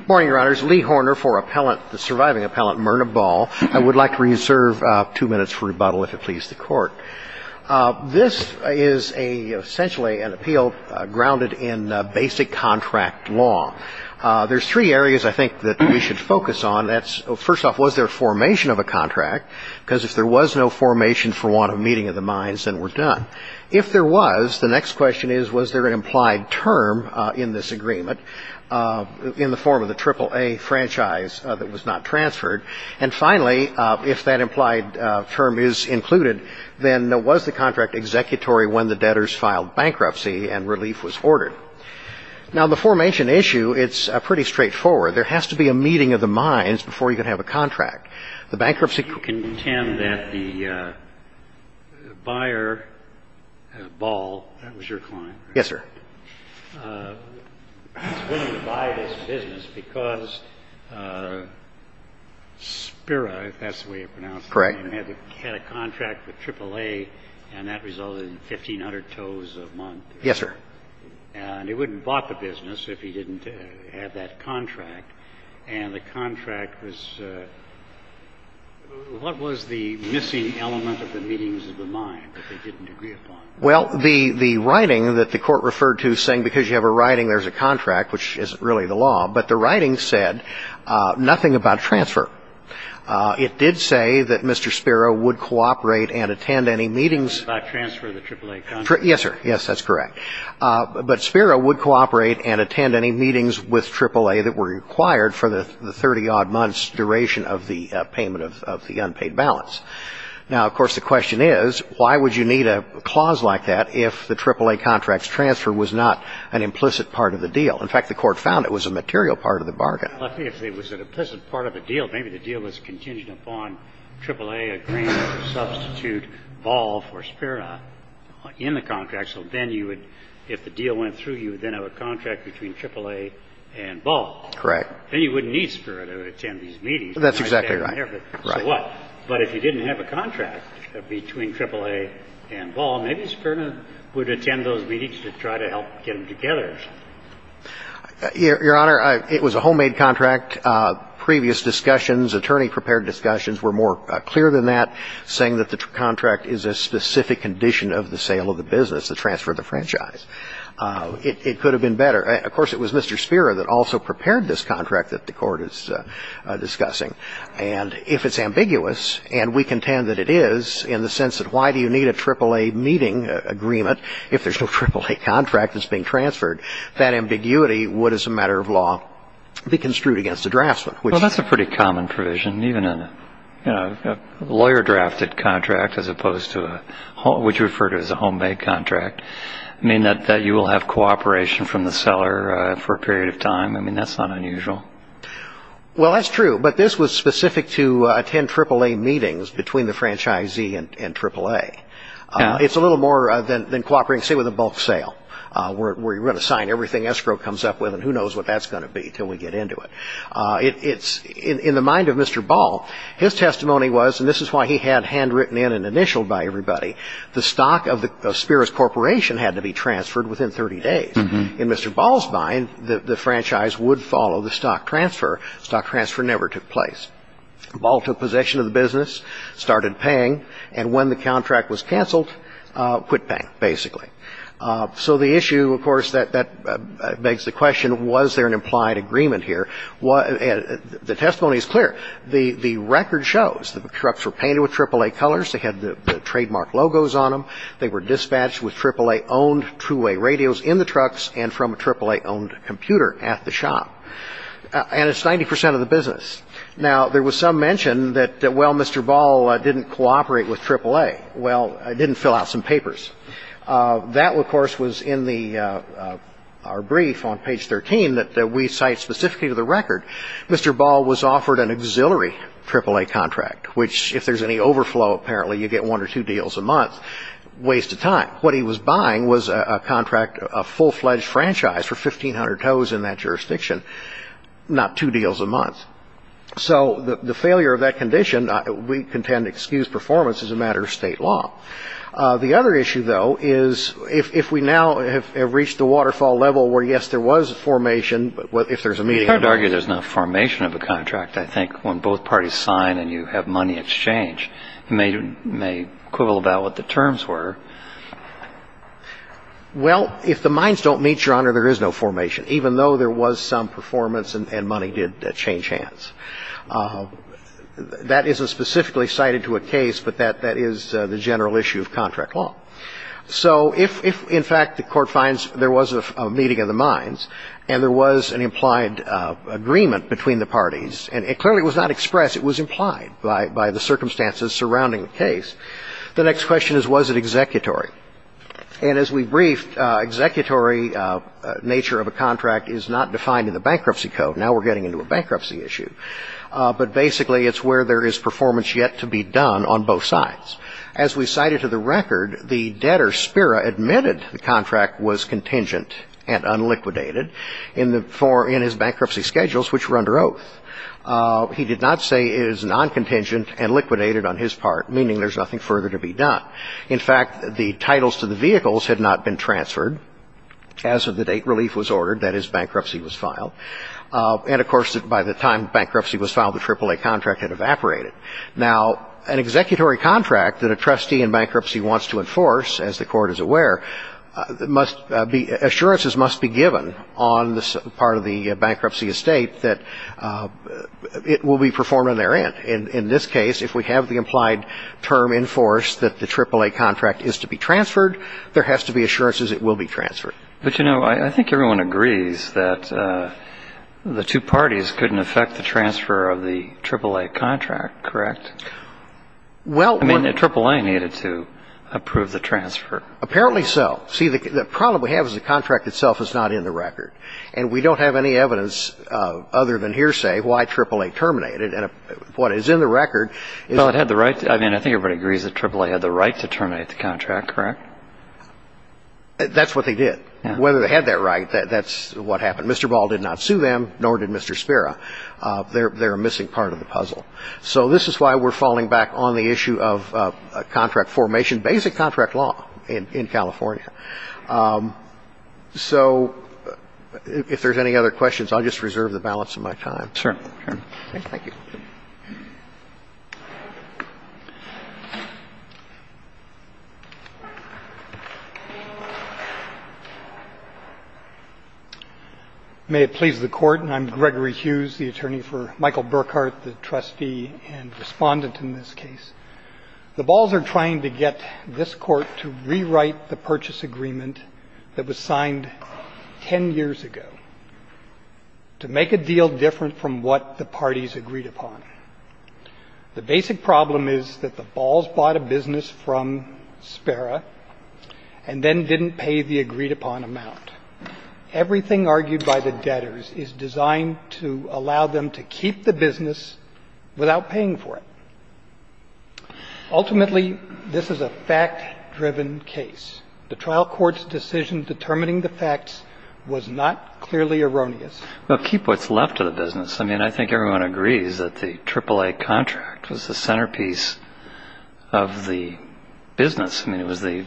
Good morning, your honors. Lee Horner for the surviving appellant Myrna Ball. I would like to reserve two minutes for rebuttal if it pleases the court. This is essentially an appeal grounded in basic contract law. There's three areas I think that we should focus on. First off, was there a formation of a contract? Because if there was no formation for want of meeting of the minds, then we're done. If there was, the next question is, was there an implied term in this agreement in the form of the AAA franchise that was not transferred? And finally, if that implied term is included, then was the contract executory when the debtors filed bankruptcy and relief was ordered? Now, the formation issue, it's pretty straightforward. There has to be a meeting of the minds before you can have a contract. The bankruptcy couldn't intend that the buyer, Ball, that was your client. Yes, sir. He couldn't buy this business because Spira, if that's the way you pronounce it. Correct. He had a contract with AAA, and that resulted in 1,500 tows a month. Yes, sir. And he wouldn't have bought the business if he didn't have that contract. And the contract was, what was the missing element of the meetings of the minds that they didn't agree upon? Well, the writing that the Court referred to saying because you have a writing, there's a contract, which isn't really the law, but the writing said nothing about transfer. It did say that Mr. Spira would cooperate and attend any meetings. Nothing about transfer of the AAA contract. Yes, sir. Yes, that's correct. But Spira would cooperate and attend any meetings with AAA that were required for the 30-odd months duration of the payment of the unpaid balance. Now, of course, the question is, why would you need a clause like that if the AAA contract's transfer was not an implicit part of the deal? In fact, the Court found it was a material part of the bargain. Well, if it was an implicit part of the deal, maybe the deal was contingent upon AAA agreeing to substitute Ball for Spira in the contract. So then you would, if the deal went through, you would then have a contract between AAA and Ball. Correct. Then you wouldn't need Spira to attend these meetings. That's exactly right. So what? But if you didn't have a contract between AAA and Ball, maybe Spira would attend those meetings to try to help get them together. Your Honor, it was a homemade contract. Previous discussions, attorney-prepared discussions were more clear than that, saying that the contract is a specific condition of the sale of the business, the transfer of the franchise. It could have been better. Of course, it was Mr. Spira that also prepared this contract that the Court is discussing. And if it's ambiguous, and we contend that it is, in the sense that why do you need a AAA meeting agreement if there's no AAA contract that's being transferred? That ambiguity would, as a matter of law, be construed against the draftsman. Well, that's a pretty common provision, even in a lawyer-drafted contract, as opposed to what you refer to as a homemade contract, that you will have cooperation from the seller for a period of time. I mean, that's not unusual. Well, that's true. But this was specific to attend AAA meetings between the franchisee and AAA. It's a little more than cooperating, say, with a bulk sale, where you're going to sign everything escrow comes up with, and who knows what that's going to be until we get into it. In the mind of Mr. Ball, his testimony was, and this is why he had handwritten in and initialed by everybody, the stock of Spira's corporation had to be transferred within 30 days. In Mr. Ball's mind, the franchise would follow the stock transfer. Stock transfer never took place. Ball took possession of the business, started paying, and when the contract was canceled, quit paying, basically. So the issue, of course, that begs the question, was there an implied agreement here? The testimony is clear. The record shows the trucks were painted with AAA colors. They had the trademark logos on them. They were dispatched with AAA-owned two-way radios in the trucks and from a AAA-owned computer at the shop. And it's 90 percent of the business. Now, there was some mention that, well, Mr. Ball didn't cooperate with AAA. Well, didn't fill out some papers. That, of course, was in our brief on page 13 that we cite specifically to the record. Mr. Ball was offered an auxiliary AAA contract, which if there's any overflow, apparently, you get one or two deals a month. Waste of time. What he was buying was a contract, a full-fledged franchise for 1,500 tows in that jurisdiction, not two deals a month. So the failure of that condition, we contend, excused performance as a matter of state law. The other issue, though, is if we now have reached the waterfall level where, yes, there was a formation, but if there's a meeting. You can't argue there's not a formation of a contract. In fact, I think when both parties sign and you have money exchange, you may quibble about what the terms were. Well, if the mines don't meet, Your Honor, there is no formation, even though there was some performance and money did change hands. That isn't specifically cited to a case, but that is the general issue of contract law. So if, in fact, the Court finds there was a meeting of the mines and there was an implied agreement between the parties, and it clearly was not expressed, it was implied by the circumstances surrounding the case, the next question is, was it executory? And as we briefed, executory nature of a contract is not defined in the Bankruptcy Code. Now we're getting into a bankruptcy issue. But basically, it's where there is performance yet to be done on both sides. As we cited to the record, the debtor, Spira, admitted the contract was contingent and unliquidated in his bankruptcy schedules, which were under oath. He did not say it is non-contingent and liquidated on his part, meaning there's nothing further to be done. In fact, the titles to the vehicles had not been transferred as of the date relief was ordered, that is, bankruptcy was filed. And, of course, by the time bankruptcy was filed, the AAA contract had evaporated. Now, an executory contract that a trustee in bankruptcy wants to enforce, as the Court is aware, assurances must be given on this part of the bankruptcy estate that it will be performed on their end. In this case, if we have the implied term enforced that the AAA contract is to be transferred, there has to be assurances it will be transferred. But, you know, I think everyone agrees that the two parties couldn't effect the transfer of the AAA contract, correct? I mean, the AAA needed to approve the transfer. Apparently so. See, the problem we have is the contract itself is not in the record. And we don't have any evidence other than hearsay why AAA terminated. And what is in the record is – Well, it had the right – I mean, I think everybody agrees the AAA had the right to terminate the contract, correct? That's what they did. Whether they had that right, that's what happened. Mr. Ball did not sue them, nor did Mr. Spera. They're a missing part of the puzzle. So this is why we're falling back on the issue of contract formation, basic contract law in California. So if there's any other questions, I'll just reserve the balance of my time. Sure. Thank you. Thank you. May it please the Court. I'm Gregory Hughes, the attorney for Michael Burkhart, the trustee and respondent in this case. The Balls are trying to get this court to rewrite the purchase agreement that was signed 10 years ago to make a deal different from what the parties agreed upon. The basic problem is that the Balls bought a business from Spera and then didn't pay the agreed-upon amount. Everything argued by the debtors is designed to allow them to keep the business without paying for it. Ultimately, this is a fact-driven case. The trial court's decision determining the facts was not clearly erroneous. Well, keep what's left of the business. I mean, I think everyone agrees that the AAA contract was the centerpiece of the business. I mean, it was the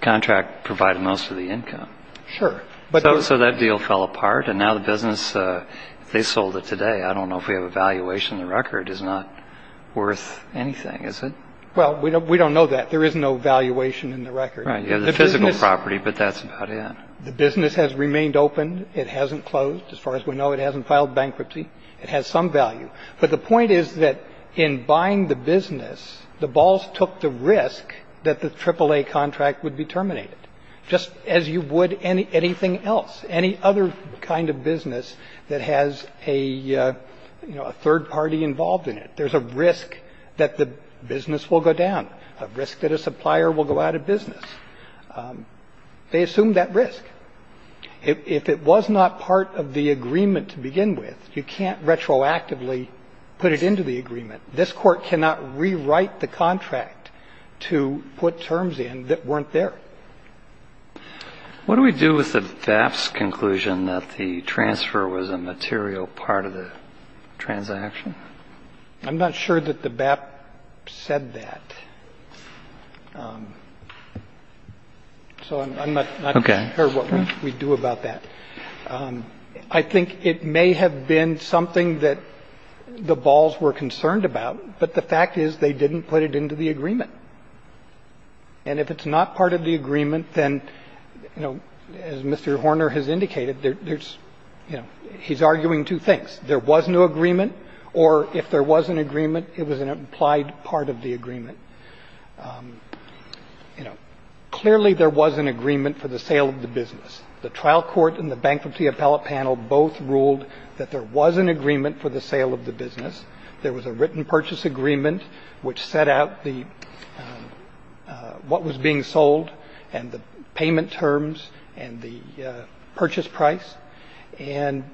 contract that provided most of the income. Sure. So that deal fell apart, and now the business, they sold it today. I don't know if we have a valuation. The record is not worth anything, is it? Well, we don't know that. There is no valuation in the record. Right. You have the physical property, but that's about it. The business has remained open. It hasn't closed. As far as we know, it hasn't filed bankruptcy. It has some value. But the point is that in buying the business, the Balls took the risk that the AAA contract would be terminated, just as you would anything else, any other kind of business that has a, you know, a third party involved in it. There's a risk that the business will go down, a risk that a supplier will go out of business. They assumed that risk. But if it was not part of the agreement to begin with, you can't retroactively put it into the agreement. This Court cannot rewrite the contract to put terms in that weren't there. What do we do with the BAP's conclusion that the transfer was a material part of the transaction? I'm not sure that the BAP said that. So I'm not sure what we do about that. I think it may have been something that the Balls were concerned about, but the fact is they didn't put it into the agreement. And if it's not part of the agreement, then, you know, as Mr. Horner has indicated, there's, you know, he's arguing two things. There was no agreement, or if there was an agreement, it was an implied part of the agreement. And, you know, clearly there was an agreement for the sale of the business. The trial court and the Bankruptcy Appellate Panel both ruled that there was an agreement for the sale of the business. There was a written purchase agreement which set out the what was being sold and the payment terms and the purchase price. And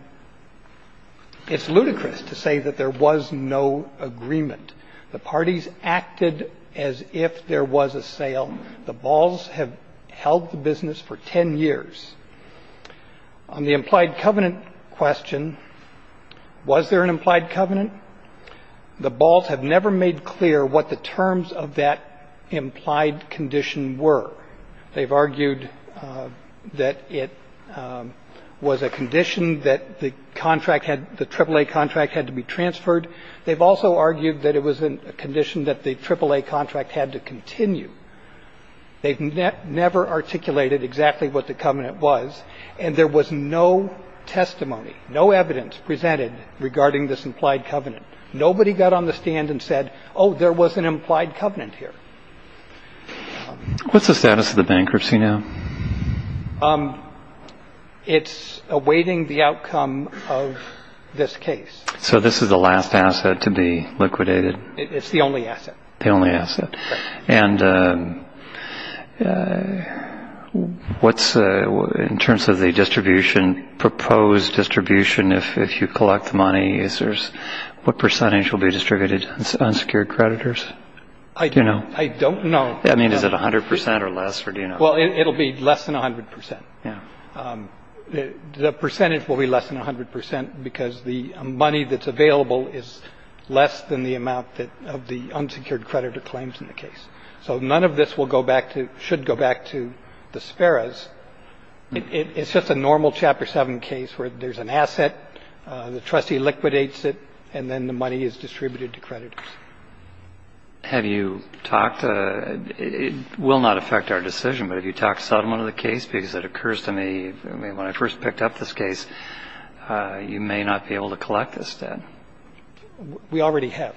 it's ludicrous to say that there was no agreement. The parties acted as if there was a sale. The Balls have held the business for 10 years. On the implied covenant question, was there an implied covenant? The Balls have never made clear what the terms of that implied condition were. They've argued that it was a condition that the contract had, the AAA contract had to be transferred. They've also argued that it was a condition that the AAA contract had to continue. They've never articulated exactly what the covenant was. And there was no testimony, no evidence presented regarding this implied covenant. Nobody got on the stand and said, oh, there was an implied covenant here. What's the status of the bankruptcy now? It's awaiting the outcome of this case. So this is the last asset to be liquidated. It's the only asset. The only asset. And what's in terms of the distribution, proposed distribution, if you collect the money, is there's what percentage will be distributed to unsecured creditors? I don't know. I mean, is it 100 percent or less or do you know? Well, it'll be less than 100 percent. Yeah. The percentage will be less than 100 percent because the money that's available is less than the amount of the unsecured creditor claims in the case. So none of this will go back to, should go back to the Sparrows. It's just a normal Chapter 7 case where there's an asset, the trustee liquidates it, and then the money is distributed to creditors. Have you talked, it will not affect our decision, but have you talked substantially to the case? Because it occurs to me, when I first picked up this case, you may not be able to collect this debt. We already have.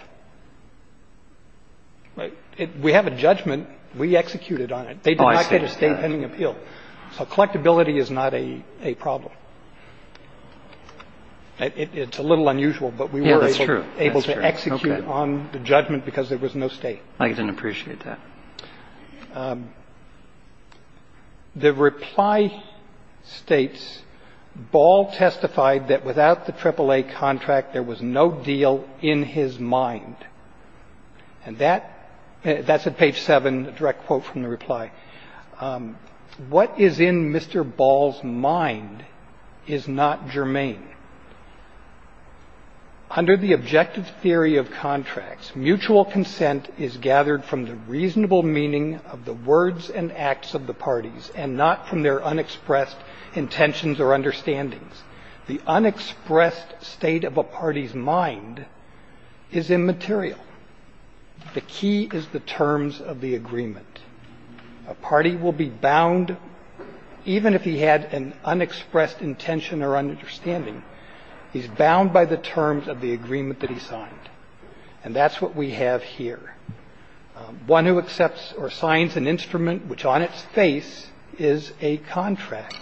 We have a judgment. We executed on it. They did not get a state pending appeal. So collectability is not a problem. It's a little unusual, but we were able to execute on the judgment because there was no state. I didn't appreciate that. The reply states, Ball testified that without the AAA contract there was no deal in his mind. And that's at page 7, a direct quote from the reply. What is in Mr. Ball's mind is not germane. Under the objective theory of contracts, mutual consent is gathered from the reasonable meaning of the words and acts of the parties and not from their unexpressed intentions or understandings. The unexpressed state of a party's mind is immaterial. The key is the terms of the agreement. A party will be bound, even if he had an unexpressed intention or understanding, he's bound by the terms of the agreement that he signed. And that's what we have here. One who accepts or signs an instrument which on its face is a contract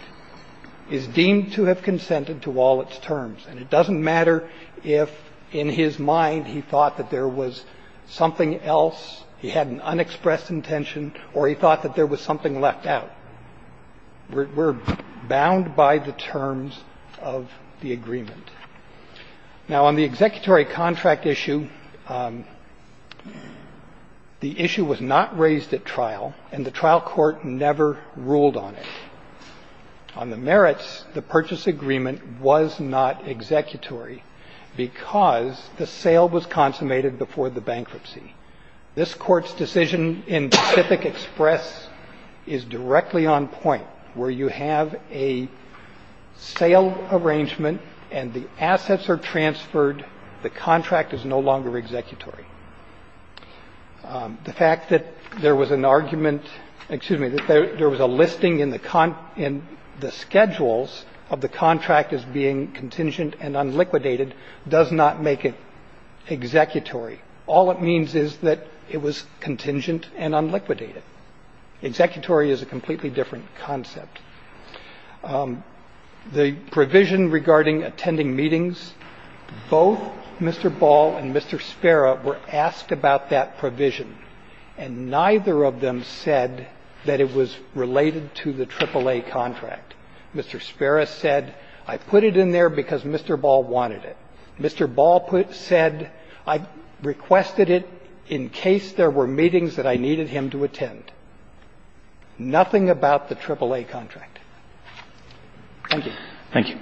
is deemed to have consented to all its terms. And it doesn't matter if in his mind he thought that there was something else, he had an unexpressed intention, or he thought that there was something left out. We're bound by the terms of the agreement. Now, on the executory contract issue, the issue was not raised at trial, and the trial court never ruled on it. On the merits, the purchase agreement was not executory because the sale was consummated before the bankruptcy. This Court's decision in Pacific Express is directly on point, where you have a sale arrangement and the assets are transferred, the contract is no longer executory. The fact that there was an argument – excuse me – that there was a listing in the – in the schedules of the contract as being contingent and unliquidated does not make it executory. All it means is that it was contingent and unliquidated. Executory is a completely different concept. The provision regarding attending meetings, both Mr. Ball and Mr. Spera were asked about that provision, and neither of them said that it was related to the AAA contract. Mr. Spera said, I put it in there because Mr. Ball wanted it. Mr. Ball said, I requested it in case there were meetings that I needed him to attend. Nothing about the AAA contract. Thank you.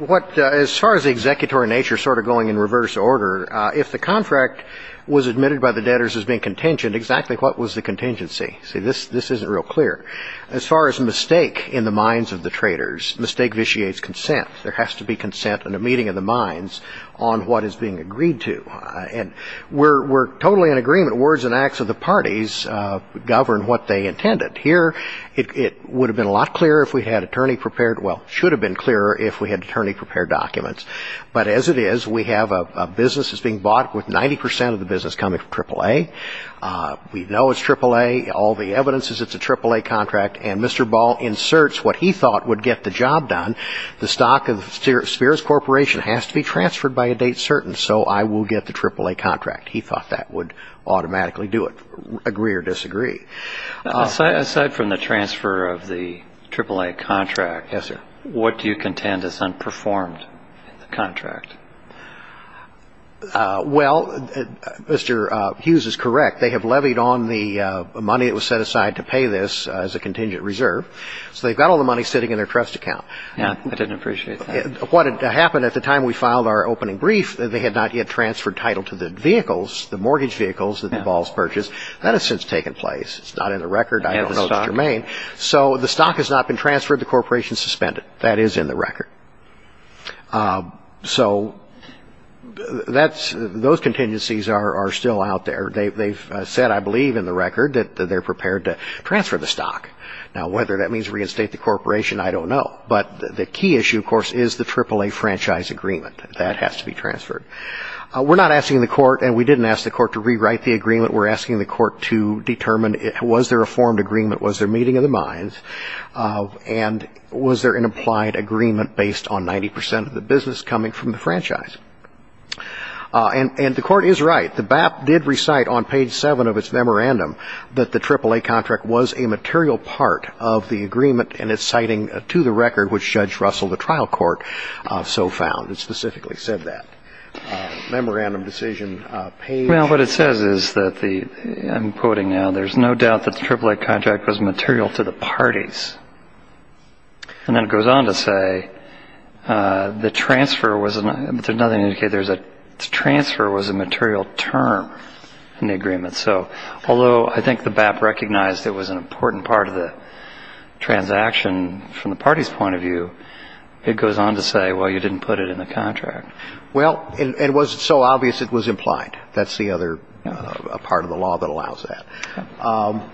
Roberts. As far as the executory nature sort of going in reverse order, if the contract was admitted by the debtors as being contingent, exactly what was the contingency? See, this isn't real clear. As far as mistake in the minds of the traders, mistake vitiates consent. There has to be consent in the meeting of the minds on what is being agreed to. And we're totally in agreement. Words and acts of the parties govern what they intended. Here it would have been a lot clearer if we had attorney-prepared – well, should have been clearer if we had attorney-prepared documents. But as it is, we have a business that's being bought with 90 percent of the business coming from AAA. We know it's AAA. All the evidence is it's a AAA contract. And Mr. Ball inserts what he thought would get the job done. The stock of Spears Corporation has to be transferred by a date certain, so I will get the AAA contract. He thought that would automatically do it, agree or disagree. Aside from the transfer of the AAA contract, what do you contend is unperformed in the contract? Well, Mr. Hughes is correct. They have levied on the money that was set aside to pay this as a contingent reserve. So they've got all the money sitting in their trust account. Yeah, I didn't appreciate that. What happened at the time we filed our opening brief, they had not yet transferred title to the vehicles, the mortgage vehicles that the Balls purchased. That has since taken place. It's not in the record. I don't know if it's germane. So the stock has not been transferred. The corporation suspended. That is in the record. So those contingencies are still out there. They've said, I believe, in the record that they're prepared to transfer the stock. Now, whether that means reinstate the corporation, I don't know. But the key issue, of course, is the AAA franchise agreement. That has to be transferred. We're not asking the court, and we didn't ask the court to rewrite the agreement. We're asking the court to determine was there a formed agreement, was there meeting of the minds, and was there an implied agreement based on 90 percent of the business coming from the franchise. And the court is right. The BAP did recite on page 7 of its memorandum that the AAA contract was a material part of the agreement, and it's citing to the record, which Judge Russell, the trial court, so found. It specifically said that. Memorandum decision page. Well, what it says is that the, I'm quoting now, there's no doubt that the AAA contract was material to the parties. And then it goes on to say the transfer was a material term in the agreement. So although I think the BAP recognized it was an important part of the transaction from the party's point of view, it goes on to say, well, you didn't put it in the contract. Well, it wasn't so obvious it was implied. That's the other part of the law that allows that.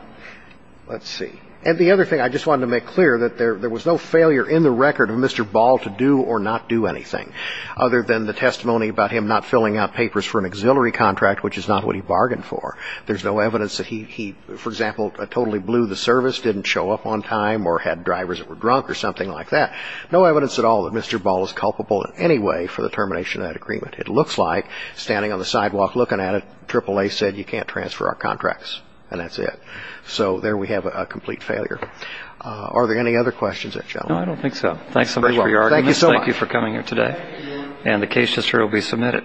Let's see. And the other thing I just wanted to make clear, that there was no failure in the record of Mr. Ball to do or not do anything, other than the testimony about him not filling out papers for an auxiliary contract, which is not what he bargained for. There's no evidence that he, for example, totally blew the service, didn't show up on time, or had drivers that were drunk or something like that. No evidence at all that Mr. Ball is culpable in any way for the termination of that agreement. It looks like, standing on the sidewalk looking at it, AAA said you can't transfer our contracts, and that's it. So there we have a complete failure. Are there any other questions? No, I don't think so. Thanks so much for your argument. Thank you so much. Thank you for coming here today. And the case history will be submitted.